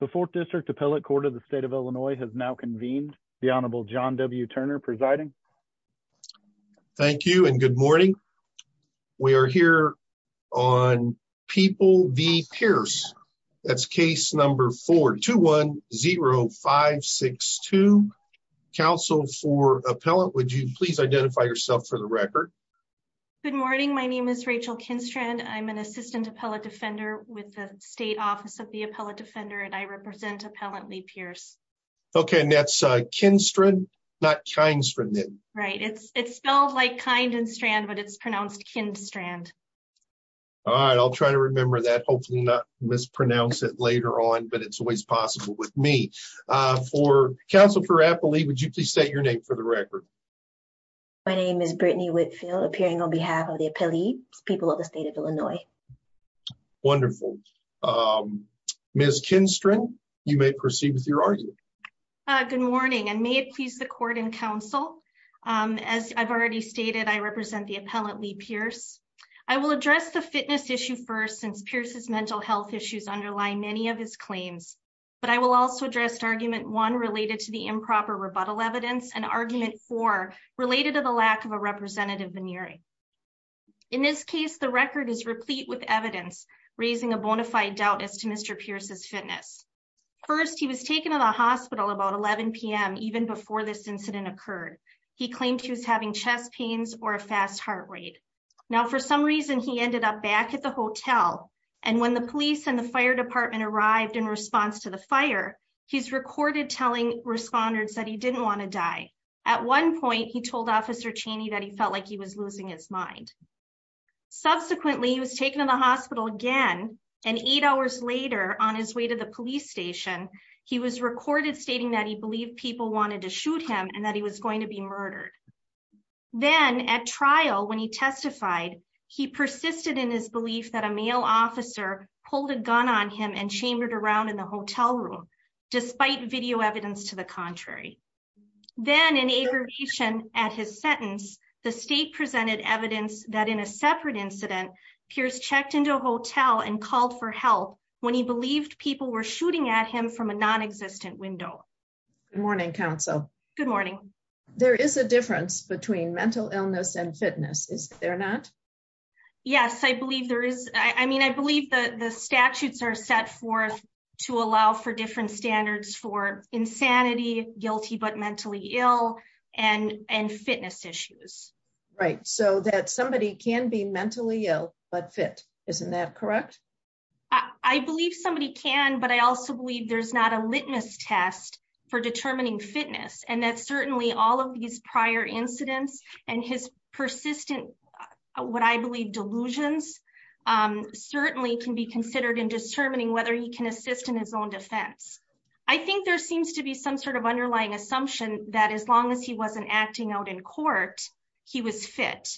The Fourth District Appellate Court of the State of Illinois has now convened. The Honorable John W. Turner presiding. Thank you and good morning. We are here on People v. Pearce. That's case number 4-210562. Counsel for Appellate, would you please identify yourself for the record? Good morning. My name is Rachel Kinstrand. I'm an Assistant Appellate Defender with the Office of the Appellate Defender, and I represent Appellate v. Pearce. Okay, and that's Kinstrand, not Kinstrand then? Right. It's spelled like kind and strand, but it's pronounced Kinstrand. All right. I'll try to remember that. Hopefully not mispronounce it later on, but it's always possible with me. Counsel for Appellate, would you please state your name for the record? My name is Brittany Whitfield, appearing on behalf of the Appellate people of the State of Illinois. All right. Wonderful. Ms. Kinstrand, you may proceed with your argument. Good morning, and may it please the Court and Counsel, as I've already stated, I represent the Appellate v. Pearce. I will address the fitness issue first, since Pearce's mental health issues underlie many of his claims, but I will also address Argument 1 related to the improper rebuttal evidence and Argument 4 related to the lack of a representative veneering. In this case, the record is replete with evidence raising a bona fide doubt as to Mr. Pearce's fitness. First, he was taken to the hospital about 11 p.m. even before this incident occurred. He claimed he was having chest pains or a fast heart rate. Now, for some reason, he ended up back at the hotel, and when the police and the fire department arrived in response to the fire, he's recorded telling responders that he didn't want to die. At one point, he told Officer Cheney that he felt like he was losing his mind. Subsequently, he was taken to the hospital again, and eight hours later, on his way to the police station, he was recorded stating that he believed people wanted to shoot him and that he was going to be murdered. Then, at trial, when he testified, he persisted in his belief that a male officer pulled a gun on him and chambered around in the hotel room, despite video evidence to the contrary. Then, in aggravation at his sentence, the state presented evidence that in a separate incident, Pearce checked into a hotel and called for help when he believed people were shooting at him from a non-existent window. Good morning, counsel. Good morning. There is a difference between mental illness and fitness, is there not? Yes, I believe there is. I mean, I believe the statutes are set forth to allow for different standards for insanity, guilty but mentally ill, and fitness issues. Right, so that somebody can be mentally ill but fit, isn't that correct? I believe somebody can, but I also believe there's not a litmus test for determining what I believe delusions certainly can be considered in determining whether he can assist in his own defense. I think there seems to be some sort of underlying assumption that as long as he wasn't acting out in court, he was fit.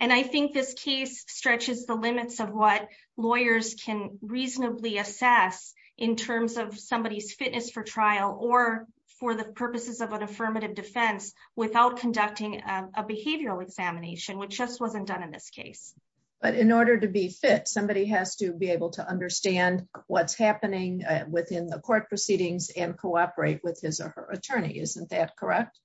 And I think this case stretches the limits of what lawyers can reasonably assess in terms of somebody's fitness for trial or for the purposes of an affirmative defense without conducting a behavioral examination, which just wasn't done in this case. But in order to be fit, somebody has to be able to understand what's happening within the court proceedings and cooperate with his or her attorney, isn't that correct?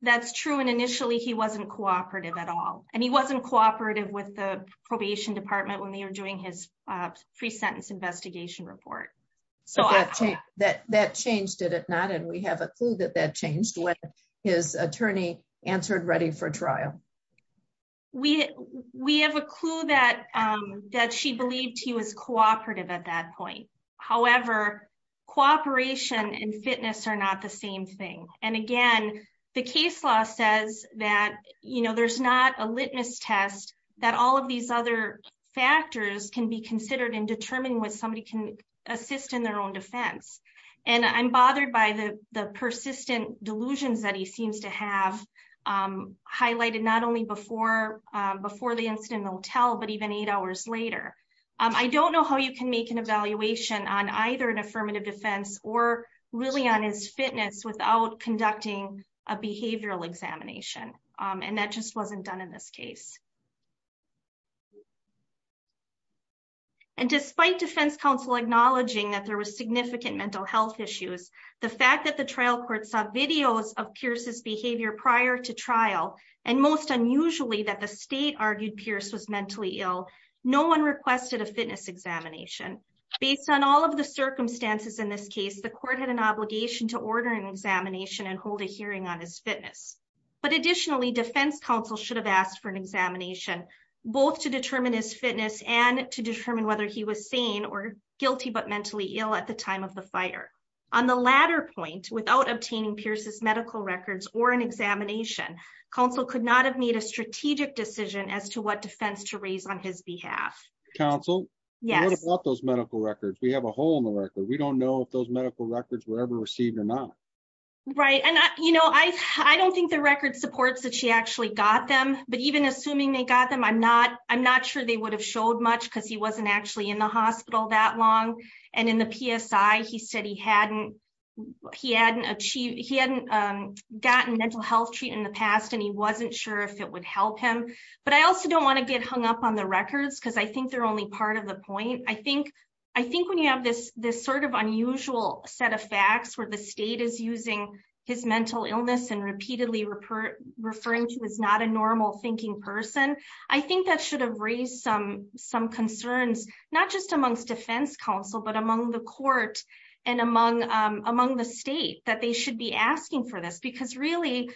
That's true. And initially, he wasn't cooperative at all. And he wasn't cooperative with the probation department when they were doing his pre-sentence investigation report. That changed, did it not? And we have a clue that that changed when his attorney answered ready for trial. We have a clue that she believed he was cooperative at that point. However, cooperation and fitness are not the same thing. And again, the case law says that there's not a litmus test that all of these other factors can be considered in determining what somebody can assist in their own defense. And I'm bothered by the persistent delusions that he seems to have highlighted not only before the incident in the hotel, but even eight hours later. I don't know how you can make an evaluation on either an affirmative defense or really on his fitness without conducting a behavioral examination. And that just wasn't done in this case. And despite defense counsel acknowledging that there was significant mental health issues, the fact that the trial court saw videos of Pierce's behavior prior to trial, and most unusually that the state argued Pierce was mentally ill, no one requested a fitness examination. Based on all of the circumstances in this case, the court had an obligation to order an examination and hold a hearing on his fitness. But additionally, defense counsel should have asked for an examination, both to determine his fitness and to determine whether he was sane or guilty, but mentally ill at the time of the fire. On the latter point, without obtaining Pierce's medical records or an examination, counsel could not have made a strategic decision as to what defense to raise on his behalf. Counsel? Yes. What about those medical records? We have a hole in the record. We don't know if those medical records were ever received or not. Right. And I, you know, I, I don't think the record supports that she actually got them, but even assuming they got them, I'm not, I'm not sure they would have showed much because he wasn't actually in the hospital that long. And in the PSI, he said he hadn't, he hadn't achieved, he hadn't gotten mental health treatment in the past and he wasn't sure if it would help him. But I also don't want to get hung up on the records because I think they're only part of the point. I think, I think when you have this, this sort of unusual set of facts where the state is using his mental illness and repeatedly refer, referring to as not a normal thinking person, I think that should have raised some, some concerns, not just amongst defense counsel, but among the court and among, among the state that they should be asking for this because really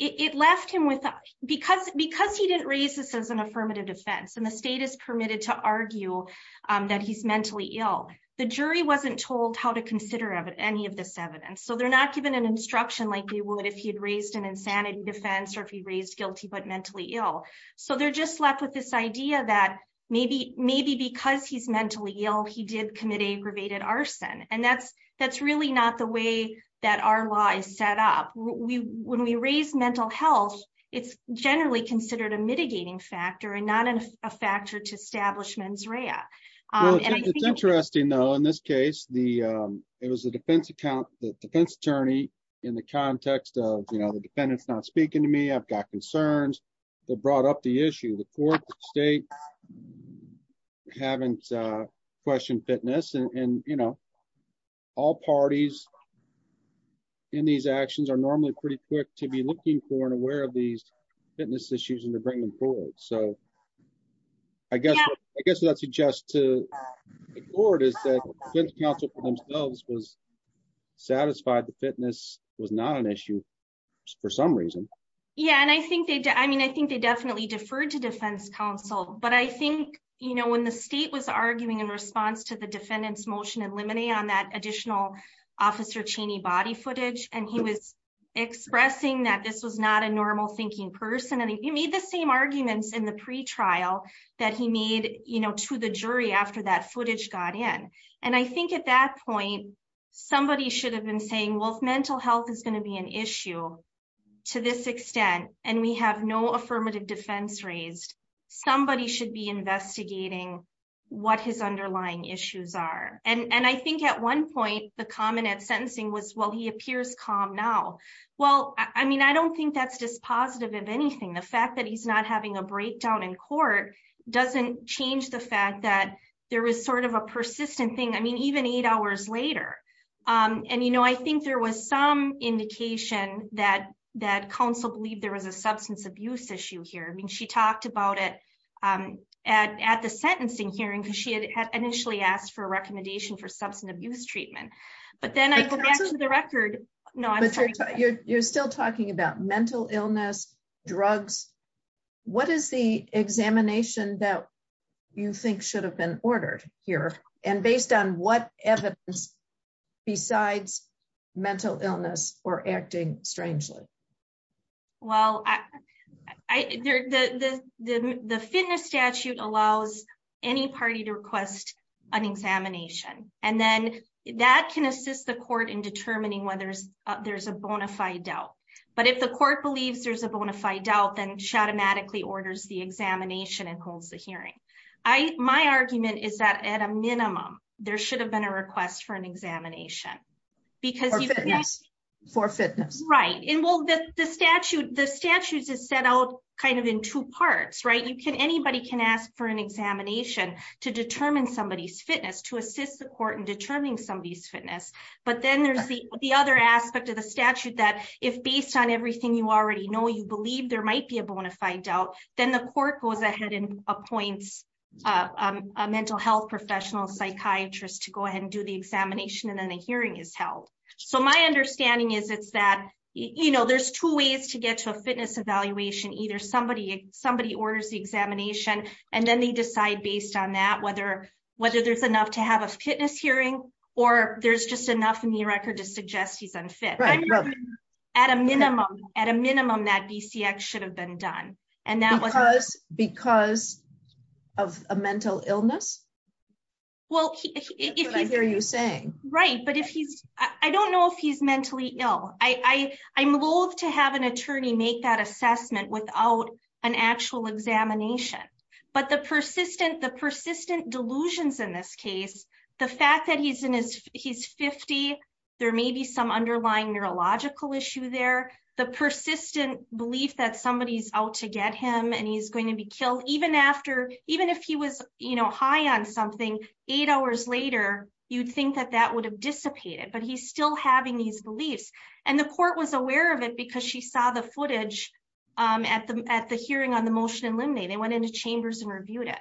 it left him with, because, because he didn't raise this as an affirmative defense and the state is permitted to argue that he's mentally ill. The jury wasn't told how to consider any of this evidence. So they're not given an instruction like they would if he had raised an insanity defense or if he raised guilty, but mentally ill. So they're just left with this idea that maybe, maybe because he's mentally ill, he did commit aggravated arson. And that's, that's really not the way that our law is set up. We, when we raise mental health, it's generally considered a mitigating factor and not a factor to establish mens rea. It's interesting though, in this case, the, it was the defense account, the defense attorney in the context of, you know, the defendant's not speaking to me, I've got concerns that brought up the issue. The court, the state haven't questioned fitness and, and, you know, all parties in these actions are normally pretty quick to be looking for and aware of these fitness issues and to bring them forward. So I guess, I guess what I suggest to the court is that the defense counsel for themselves was satisfied that fitness was not an issue for some reason. Yeah. And I think they, I mean, I think they definitely deferred to defense counsel, but I think, you know, when the state was arguing in response to the defendant's motion and limine on that additional officer Cheney body footage, and he was expressing that this was not a normal thinking person. And he made the same arguments in the pretrial that he made, you know, to the jury after that footage got in. And I think at that point, somebody should have been saying, well, if mental health is going to be an issue to this extent, and we have no affirmative defense raised, somebody should be investigating what his underlying issues are. And I think at one point, the common at sentencing was, well, he appears calm now. Well, I mean, I don't think that's dispositive of anything. The fact that he's not having a breakdown in court doesn't change the fact that there was sort of a persistent thing. I mean, even eight hours later, and you know, I think there was some indication that that counsel believe there was a substance abuse issue here. I mean, she talked about it at at the sentencing hearing, because she had initially asked for a recommendation for substance abuse treatment. But then I go back to the record. No, I'm sure you're still talking about mental illness, drugs. What is the examination that you think should have been ordered here? And based on what evidence besides mental illness or acting strangely? Well, I, I, the the fitness statute allows any party to request an examination. And then that can assist the court in determining whether there's there's a bona fide doubt. But if the court believes there's a bona fide doubt, then she automatically orders the examination and holds the hearing. I my argument is that at a minimum, there should have been a request for an examination. Because yes, for fitness, right? And well, the statute, the statutes is set out kind of in two parts, right? You can anybody can ask for an examination to determine somebody's fitness to but then there's the other aspect of the statute that if based on everything you already know, you believe there might be a bona fide doubt, then the court goes ahead and appoints a mental health professional psychiatrist to go ahead and do the examination and then the hearing is held. So my understanding is it's that, you know, there's two ways to get to a fitness evaluation, either somebody, somebody orders the examination, and then they decide based on that whether, whether there's enough to have a fitness hearing, or there's just enough in the record to suggest he's unfit. At a minimum, at a minimum, that BCX should have been done. And that was because of a mental illness. Well, if I hear you saying, right, but if he's, I don't know if he's mentally ill, I, I'm loathe to have an attorney make that assessment without an actual examination. But the persistent the persistent delusions in this case, the fact that he's in his he's 50, there may be some underlying neurological issue there, the persistent belief that somebody's out to get him and he's going to be killed even after even if he was, you know, high on something, eight hours later, you'd think that that would have dissipated, but he's still having these beliefs. And the court was aware of it because she saw the footage at the at the hearing on the limb. They went into chambers and reviewed it.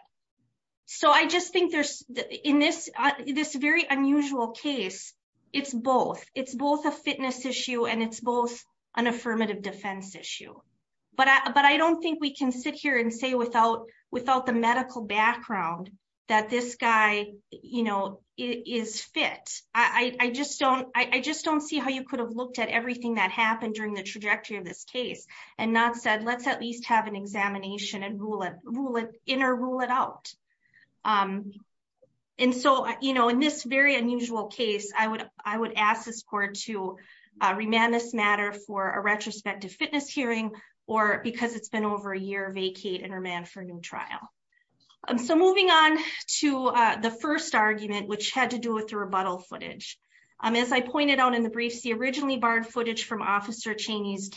So I just think there's in this, this very unusual case, it's both it's both a fitness issue, and it's both an affirmative defense issue. But I don't think we can sit here and say without without the medical background, that this guy, you know, is fit, I just don't, I just don't see how you could have looked at everything that and not said, let's at least have an examination and rule it rule it in or rule it out. And so, you know, in this very unusual case, I would I would ask this court to remand this matter for a retrospective fitness hearing, or because it's been over a year vacate and remand for new trial. So moving on to the first argument, which had to do with the rebuttal footage. As I pointed out in the briefs, the originally barred footage from Officer Chaney's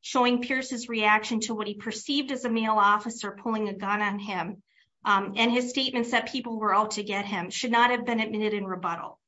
showing Pierce's reaction to what he perceived as a male officer pulling a gun on him. And his statements that people were out to get him should not have been admitted in rebuttal.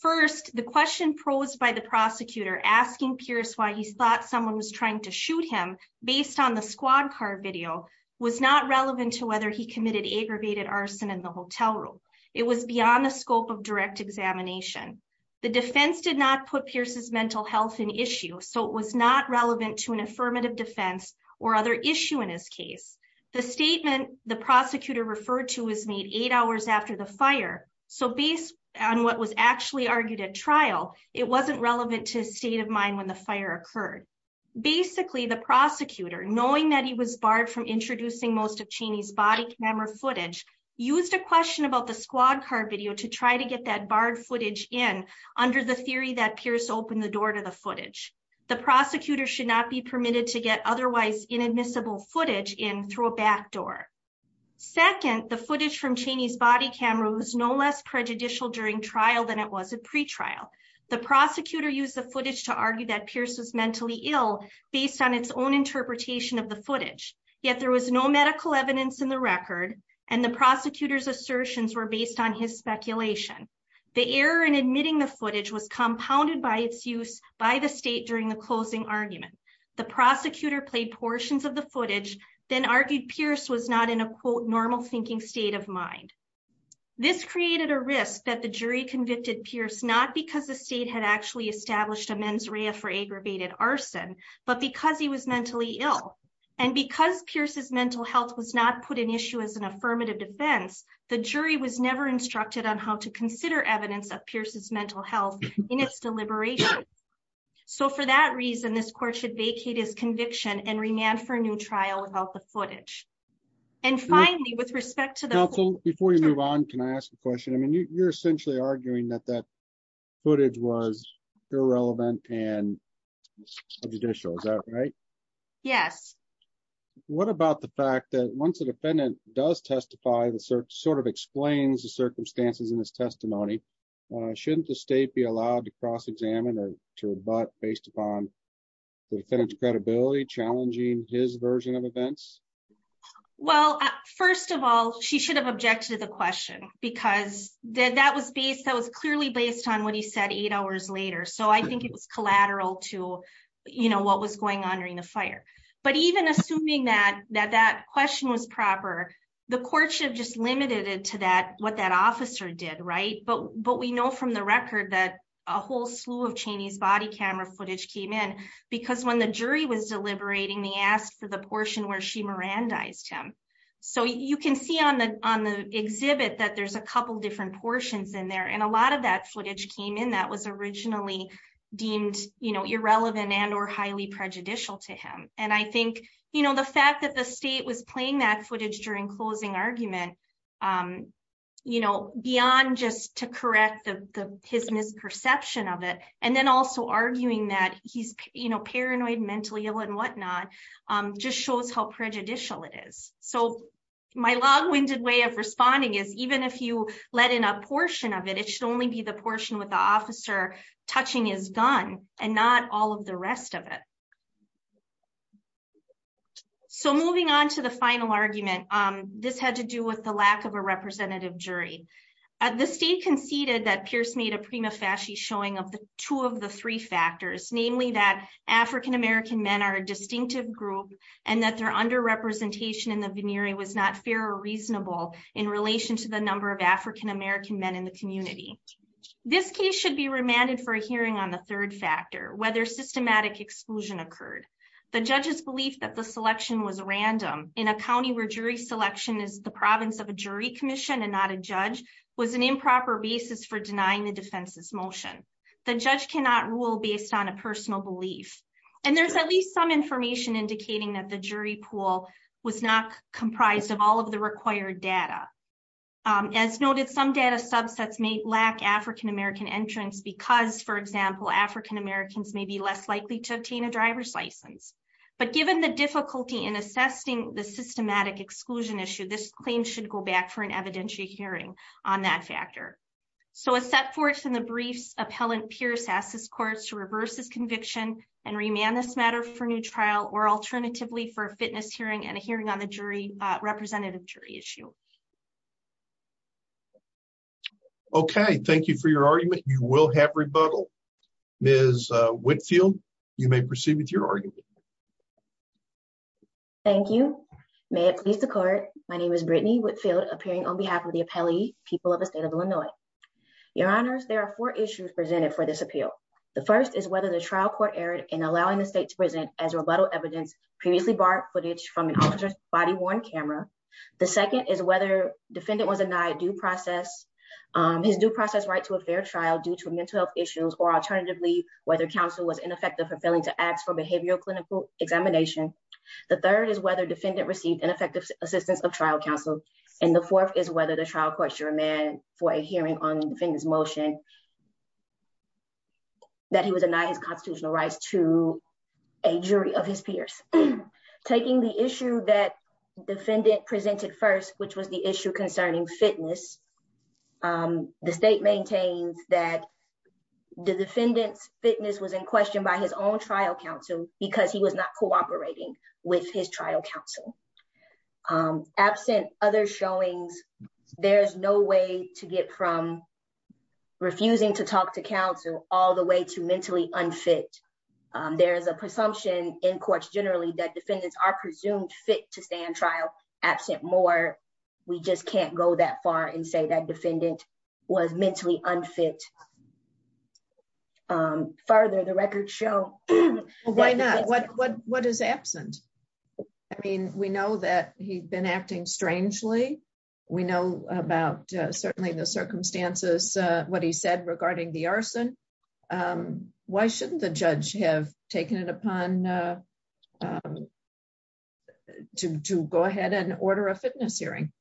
First, the question posed by the prosecutor asking Pierce why he thought someone was trying to shoot him based on the squad car video was not relevant to whether he committed aggravated arson in the hotel room. It was beyond the scope of direct examination. The defense did not put Pierce's mental health in issue. So it was not relevant to an affirmative defense or other issue in his case. The statement the prosecutor referred to was made eight hours after the fire. So based on what was actually argued at trial, it wasn't relevant to state of mind when the fire occurred. Basically, the prosecutor knowing that he was barred from introducing most of Cheney's body camera footage, used a question about the squad car video to try to get that barred footage in under the theory that Pierce opened the door to the footage. The prosecutor should not be permitted to get otherwise inadmissible footage in through a back door. Second, the footage from Cheney's body camera was no less prejudicial during trial than it was at pretrial. The prosecutor used the footage to argue that Pierce was mentally ill based on its own interpretation of the footage. Yet there was no medical evidence in the record and the prosecutor's assertions were based on his speculation. The error in admitting the footage was compounded by its use by the state during the closing argument. The prosecutor played portions of the footage, then argued Pierce was not in a quote normal thinking state of mind. This created a risk that the jury convicted Pierce not because the state had actually established a mens rea for aggravated arson, but because he was mentally ill. And because Pierce's mental health was not put in issue as an affirmative defense, the jury was never instructed on how to consider evidence of Pierce's mental health in its deliberation. So for that reason, this court should vacate his conviction and remand for a new trial without the footage. And finally, with respect to the- Counsel, before you move on, can I ask a question? I mean, you're essentially arguing that that footage was irrelevant and prejudicial, is that right? Yes. What about the fact that once a defendant does testify, the search sort of explains the circumstances in his testimony, shouldn't the state be allowed to cross-examine or to rebut based upon the defendant's credibility challenging his version of events? Well, first of all, she should have objected to the question because that was based, that was clearly based on what he said eight hours later. So I think it was collateral to, you know, what was going on during the fire. But even assuming that that question was proper, the court should have just limited it to that, what that officer did, right? But we know from the record that a whole slew of Cheney's body camera footage came in because when the jury was deliberating, they asked for the portion where she Mirandized him. So you can see on the exhibit that there's a couple of different portions in there. And a lot of that footage came in that was originally deemed, you know, irrelevant and or highly prejudicial to him. And I think, you know, the fact that the state was playing that footage during closing argument, you know, beyond just to correct the his misperception of it, and then also arguing that he's, you know, paranoid, mentally ill and whatnot, just shows how prejudicial it is. So my long winded way of responding is even if you let in a portion of it, it should only be the portion with the officer touching his gun and not all of the rest of it. So moving on to the final argument, this had to do with the lack of a representative jury. The state conceded that Pierce made a prima facie showing of the two of the three factors, namely that African American men are a distinctive group, and that their underrepresentation in the veneering was not fair or reasonable in relation to the number of African American men in the hearing on the third factor, whether systematic exclusion occurred. The judges believe that the selection was random in a county where jury selection is the province of a jury commission and not a judge was an improper basis for denying the defense's motion. The judge cannot rule based on a personal belief. And there's at least some information indicating that the jury pool was not comprised of all of the required data. As noted, some data subsets may lack African entrance because, for example, African Americans may be less likely to obtain a driver's license. But given the difficulty in assessing the systematic exclusion issue, this claim should go back for an evidentiary hearing on that factor. So a set forth in the briefs appellant Pierce asked his courts to reverse his conviction and remand this matter for new trial or alternatively for a fitness hearing and a hearing on the jury representative jury issue. Okay, thank you for your argument. You will have rebuttal is Whitfield. You may proceed with your argument. Thank you. May it please the court. My name is Brittany Whitfield appearing on behalf of the appellee people of the state of Illinois. Your honors, there are four issues presented for this appeal. The first is whether the trial court erred in allowing the state to present as rebuttal evidence previously borrowed footage from an officer's body worn camera. The second is whether defendant was denied due process, his due process right to a fair trial due to mental health issues or alternatively, whether counsel was ineffective for failing to ask for behavioral clinical examination. The third is whether defendant received ineffective assistance of trial counsel. And the fourth is whether the trial courts are a man for a hearing on the defendant's motion that he was denied his constitutional rights to a jury of his peers. Taking the issue that defendant presented first, which was the issue concerning fitness. The state maintains that the defendant's fitness was in question by his own trial counsel, because he was not cooperating with his trial counsel. Absent other showings, there's no way to get from refusing to talk to counsel all the way to mentally unfit. There is a presumption in courts generally that defendants are presumed fit to stand trial absent more. We just can't go that far and say that defendant was mentally unfit. Further, the record show. Why not? What what what is absent? I mean, we know that he's been acting strangely. We know about certainly the circumstances, what he said regarding the arson. Um, why shouldn't the judge have taken it upon to go ahead and order a fitness hearing?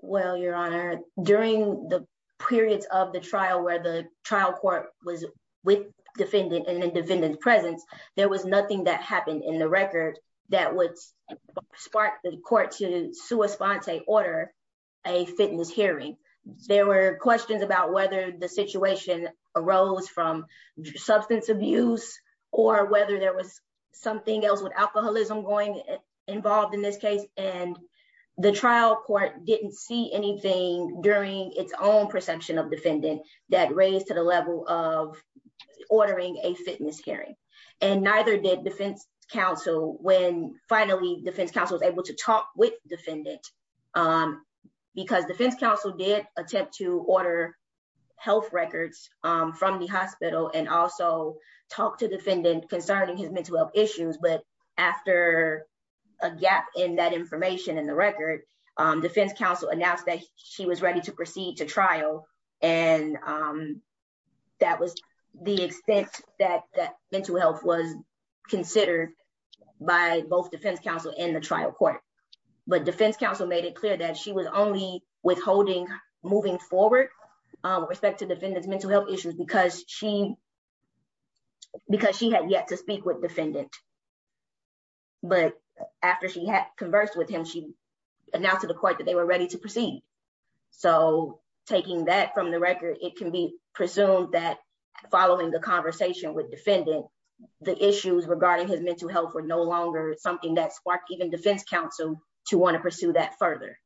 Well, Your Honor, during the periods of the trial where the trial court was with defendant and independent presence, there was nothing that happened in the record that would spark the court to sui sponte order a fitness hearing. There were questions about whether the situation arose from substance abuse or whether there was something else with alcoholism going involved in this case. And the trial court didn't see anything during its own perception of defendant that raised to the level of ordering a fitness hearing. And neither did defense counsel when finally defense counsel was able to talk with defendant because defense counsel did attempt to order health records from the hospital and also talk to defendant concerning his mental health issues. But after a gap in that information in the record, defense counsel announced that she was ready to proceed to trial. And that was the extent that that mental health was considered by both defense counsel in the trial court. But defense counsel made it clear that she was only withholding moving forward respect to defendants mental health issues because she because she had yet to speak with defendant. But after she had conversed with him, she announced to the court that they were ready to proceed. So taking that from the record, it can be presumed that following the conversation with defendant, the issues regarding his mental health were no longer something that sparked even defense counsel to want to pursue that further.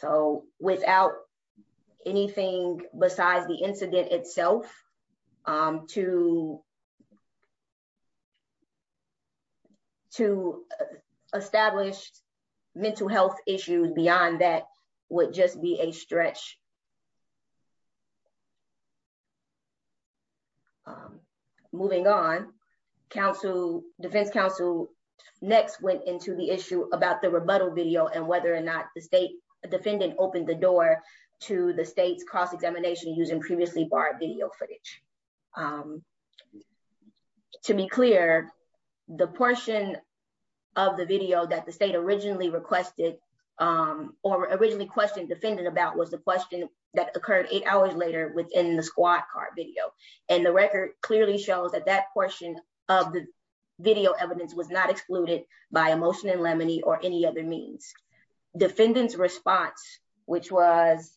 So without anything besides the incident itself, to establish mental health issues beyond that would just be a stretch. Moving on, defense counsel next went into the issue about the rebuttal video and whether or not the state defendant opened the door to the state's cross-examination using previously borrowed video footage. To be clear, the portion of the video that the state originally requested or originally questioned defendant about was the question that occurred eight hours later within the squad car video. And the record clearly shows that that portion of the video evidence was not excluded by emotion and lemony or any other means. Defendant's response, which was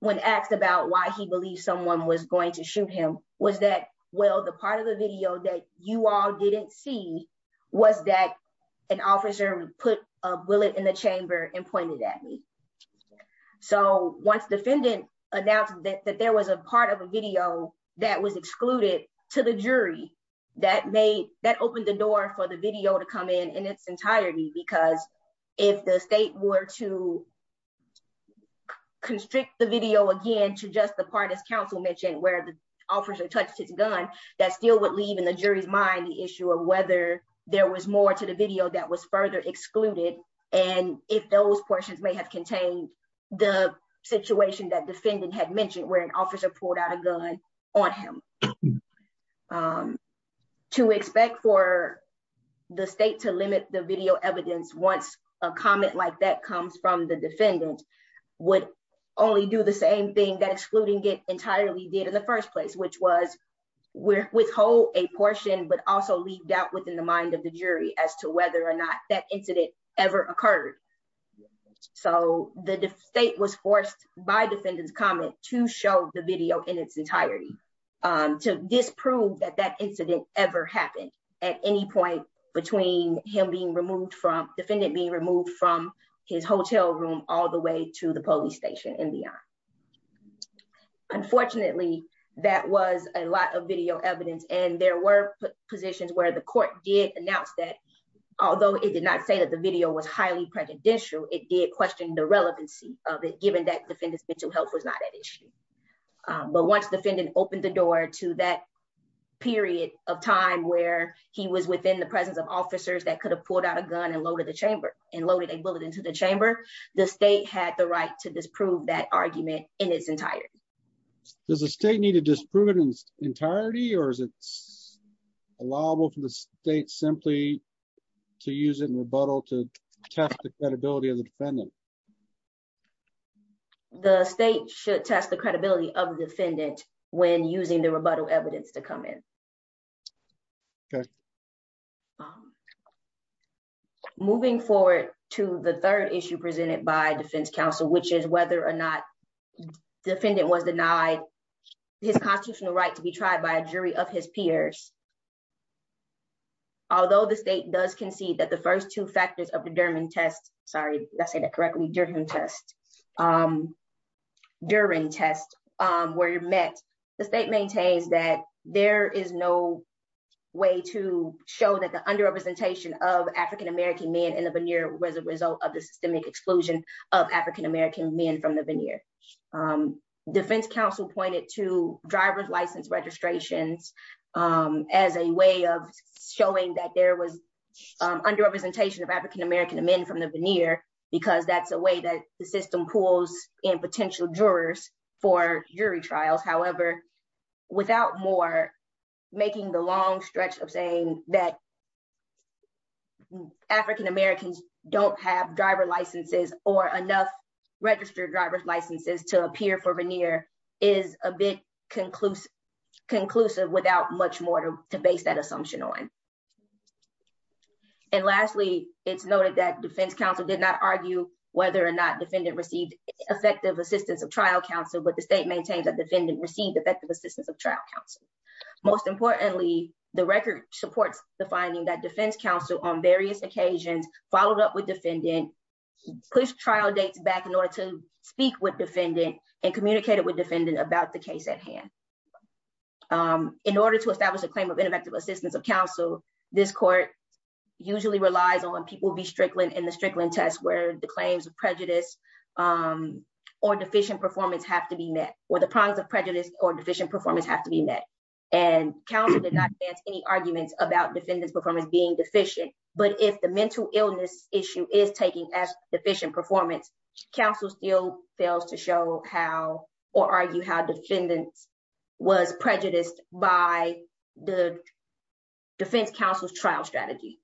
when asked about why he believed someone was going to shoot him, was that, well, the part of the video that you all didn't see was that an officer put a bullet in the chamber and pointed at me. So once defendant announced that there was a part of a video that was excluded to the jury, that opened the door for the video to come in, in its entirety. Because if the state were to constrict the video again to just the part, as counsel mentioned, where the officer touched his gun, that still would leave in the jury's mind the issue of whether there was more to the video that was further excluded and if those portions may have contained the situation that defendant had mentioned where an officer pulled out a gun on him. To expect for the state to limit the video evidence once a comment like that comes from the defendant would only do the same thing that excluding it entirely did in the first place, which was withhold a portion but also leave doubt within the mind of the jury as to whether or not that incident ever occurred. So the state was forced by defendant's comment to show the video in its entirety to disprove that that incident ever happened at any point between him being all the way to the police station and beyond. Unfortunately, that was a lot of video evidence and there were positions where the court did announce that although it did not say that the video was highly prejudicial, it did question the relevancy of it given that defendant's mental health was not at issue. But once defendant opened the door to that period of time where he was within the presence of officers that could have pulled out a gun and loaded a bullet into the chamber, the state had the right to disprove that argument in its entirety. Does the state need to disprove it in entirety or is it allowable for the state simply to use it in rebuttal to test the credibility of the defendant? The state should test the credibility of defendant when using the rebuttal evidence to come in. Okay. Moving forward to the third issue presented by defense counsel, which is whether or not defendant was denied his constitutional right to be tried by a jury of his peers. Although the state does concede that the first two factors of the Durham test, sorry, did I say no way to show that the underrepresentation of African American men in the veneer was a result of the systemic exclusion of African American men from the veneer. Defense counsel pointed to driver's license registrations as a way of showing that there was underrepresentation of African American men from the veneer because that's a way that the system pulls in potential jurors for jury trials. However, without more making the long stretch of saying that African Americans don't have driver licenses or enough registered driver's licenses to appear for veneer is a bit conclusive without much more to base that assumption on. And lastly, it's noted that defense counsel did not argue whether or not defendant received effective assistance of trial counsel, but the state maintains that defendant received effective assistance of trial counsel. Most importantly, the record supports the finding that defense counsel on various occasions followed up with defendant, pushed trial dates back in order to speak with defendant and communicated with defendant about the case at hand. In order to establish a claim of ineffective assistance of counsel, this court usually relies on people be strickling in the strickling test where the claims of prejudice or deficient performance have to be met, where the prongs of prejudice or deficient performance have to be met. And counsel did not advance any arguments about defendant's performance being deficient. But if the mental illness issue is taken as deficient performance, counsel still fails to show how or argue how defendant was prejudiced by the defense counsel's trial strategy.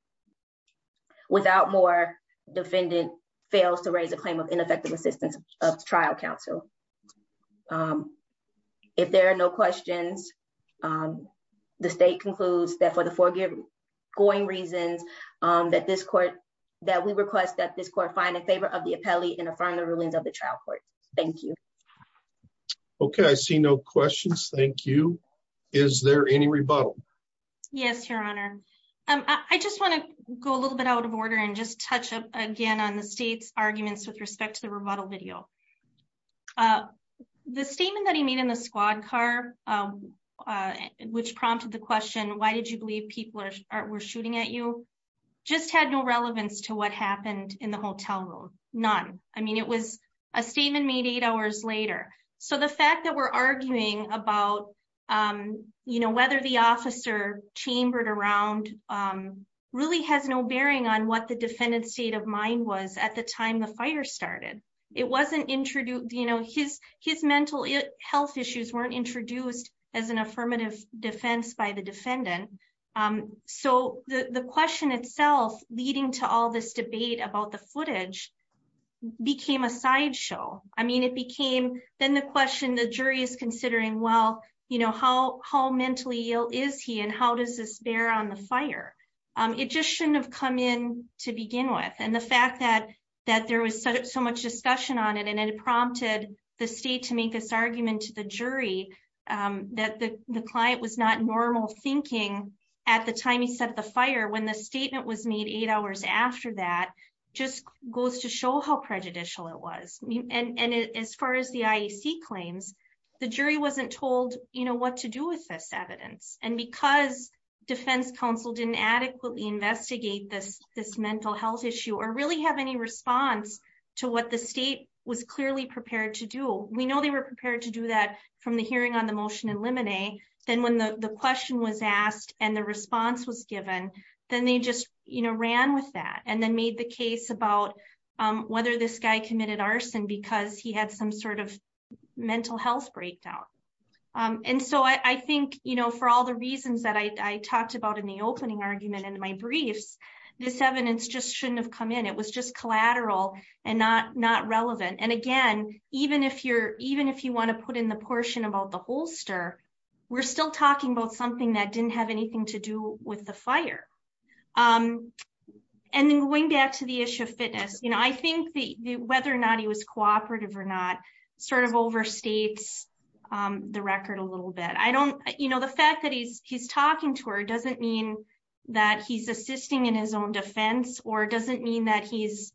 Without more defendant fails to raise a claim of ineffective assistance of trial counsel. If there are no questions, the state concludes that for the forgiven going reasons that this court that we request that this court find in favor of the appellee and affirm the rulings of the trial court. Thank you. Okay, I see no questions. Thank you. Is there any rebuttal? Yes, Your Honor. I just want to go a little bit out of order and just touch up again on the state's arguments with respect to the rebuttal video. The statement that he made in the squad car, which prompted the question, why did you believe people were shooting at you? Just had no relevance to what happened in the hotel room. None. I mean, it was a statement made eight hours later. So the fact that we're arguing about, you know, whether the officer chambered around really has no bearing on what the defendant's state of mind was at the time the fire started. It wasn't introduced, you know, his his mental health issues weren't introduced as an affirmative defense by the defendant. So the question itself leading to all this debate about the footage became a sideshow. I mean, it became then the question the jury is considering, well, you know, how how mentally ill is he? And how does this bear on the fire? It just shouldn't have come in to begin with. And the fact that that there was so much discussion on it, and it prompted the state to make this argument to the jury, that the client was not normal thinking, at the time he set the fire when the statement was made eight hours after that, just goes to show how prejudicial it was. And as far as the IEC claims, the jury wasn't told, you know, what to do with this evidence. And because defense counsel didn't adequately investigate this, this mental health issue, or really have any response to what the state was clearly prepared to do, we know they were prepared to do that from the hearing on the motion in limine. Then when the question was asked, and the response was given, then they just, you know, ran with that and then made the case about whether this guy committed arson, because he had some sort of mental health breakdown. And so I think, you know, for all the reasons that I talked about in the opening argument in my briefs, this evidence just shouldn't have come in, it was just collateral, and not not relevant. And again, even if you're even if you want to put in the portion about the holster, we're still talking about something that didn't have anything to do with the fire. Um, and then going back to the issue of fitness, you know, I think the whether or not he was cooperative or not, sort of overstates the record a little bit, I don't, you know, the fact that he's he's talking to her doesn't mean that he's assisting in his own defense, or doesn't mean that he's,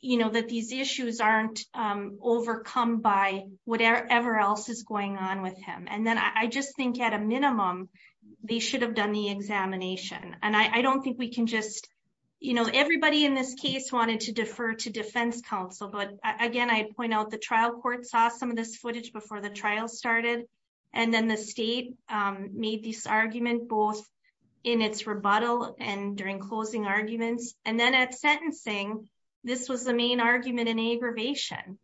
you know, that these issues aren't overcome by whatever else is going on with him. And then I just think at a minimum, they should have done the examination. And I don't think we can just, you know, everybody in this case wanted to defer to defense counsel. But again, I'd point out the trial court saw some of this footage before the trial started. And then the state made this argument both in its rebuttal and during closing arguments. And then at sentencing, this was the main argument in aggravation.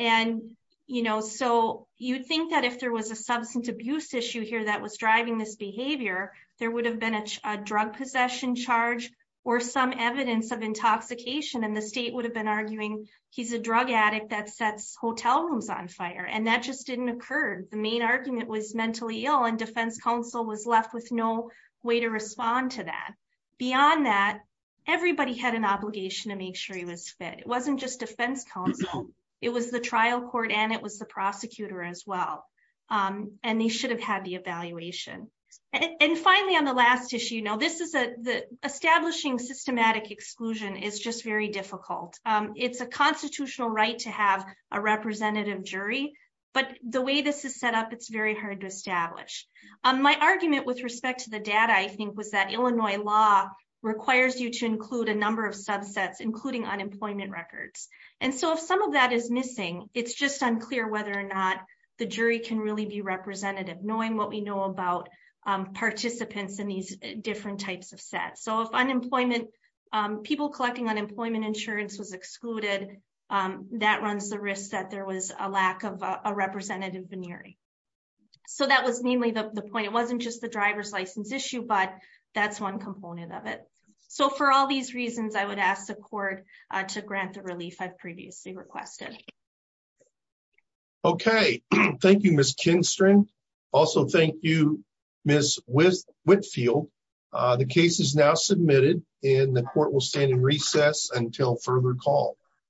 And, you know, so you'd think that if there was a substance abuse issue here that was driving this behavior, there would have been a drug possession charge, or some evidence of intoxication, and the state would have been arguing, he's a drug addict that sets hotel rooms on fire. And that just didn't occur. The main argument was mentally ill, and defense counsel was left with no way to respond to that. Beyond that, everybody had an obligation to make sure he was fit. It wasn't just defense counsel, it was the trial court, and it was the prosecutor as well. And they should have had the evaluation. And finally, on the last issue, you know, this is a the establishing systematic exclusion is just very difficult. It's a constitutional right to have a representative jury. But the way this is set up, it's very hard to establish. My argument with respect to the data, I think, was that Illinois law requires you to include a number of subsets, including unemployment records. And so if some of that is missing, it's just unclear whether or not the jury can really be representative, knowing what we know about participants in these different types of sets. So if unemployment, people collecting unemployment insurance was excluded, that runs the risk that there was a lack of a representative veneering. So that was mainly the point, it wasn't just the driver's license issue, but that's one component of it. So for all these reasons, I would ask the court to grant the relief I've previously requested. Okay, thank you, Miss Kinstren. Also, thank you, Miss Whitfield. The case is now submitted and the court will stand in recess until further call.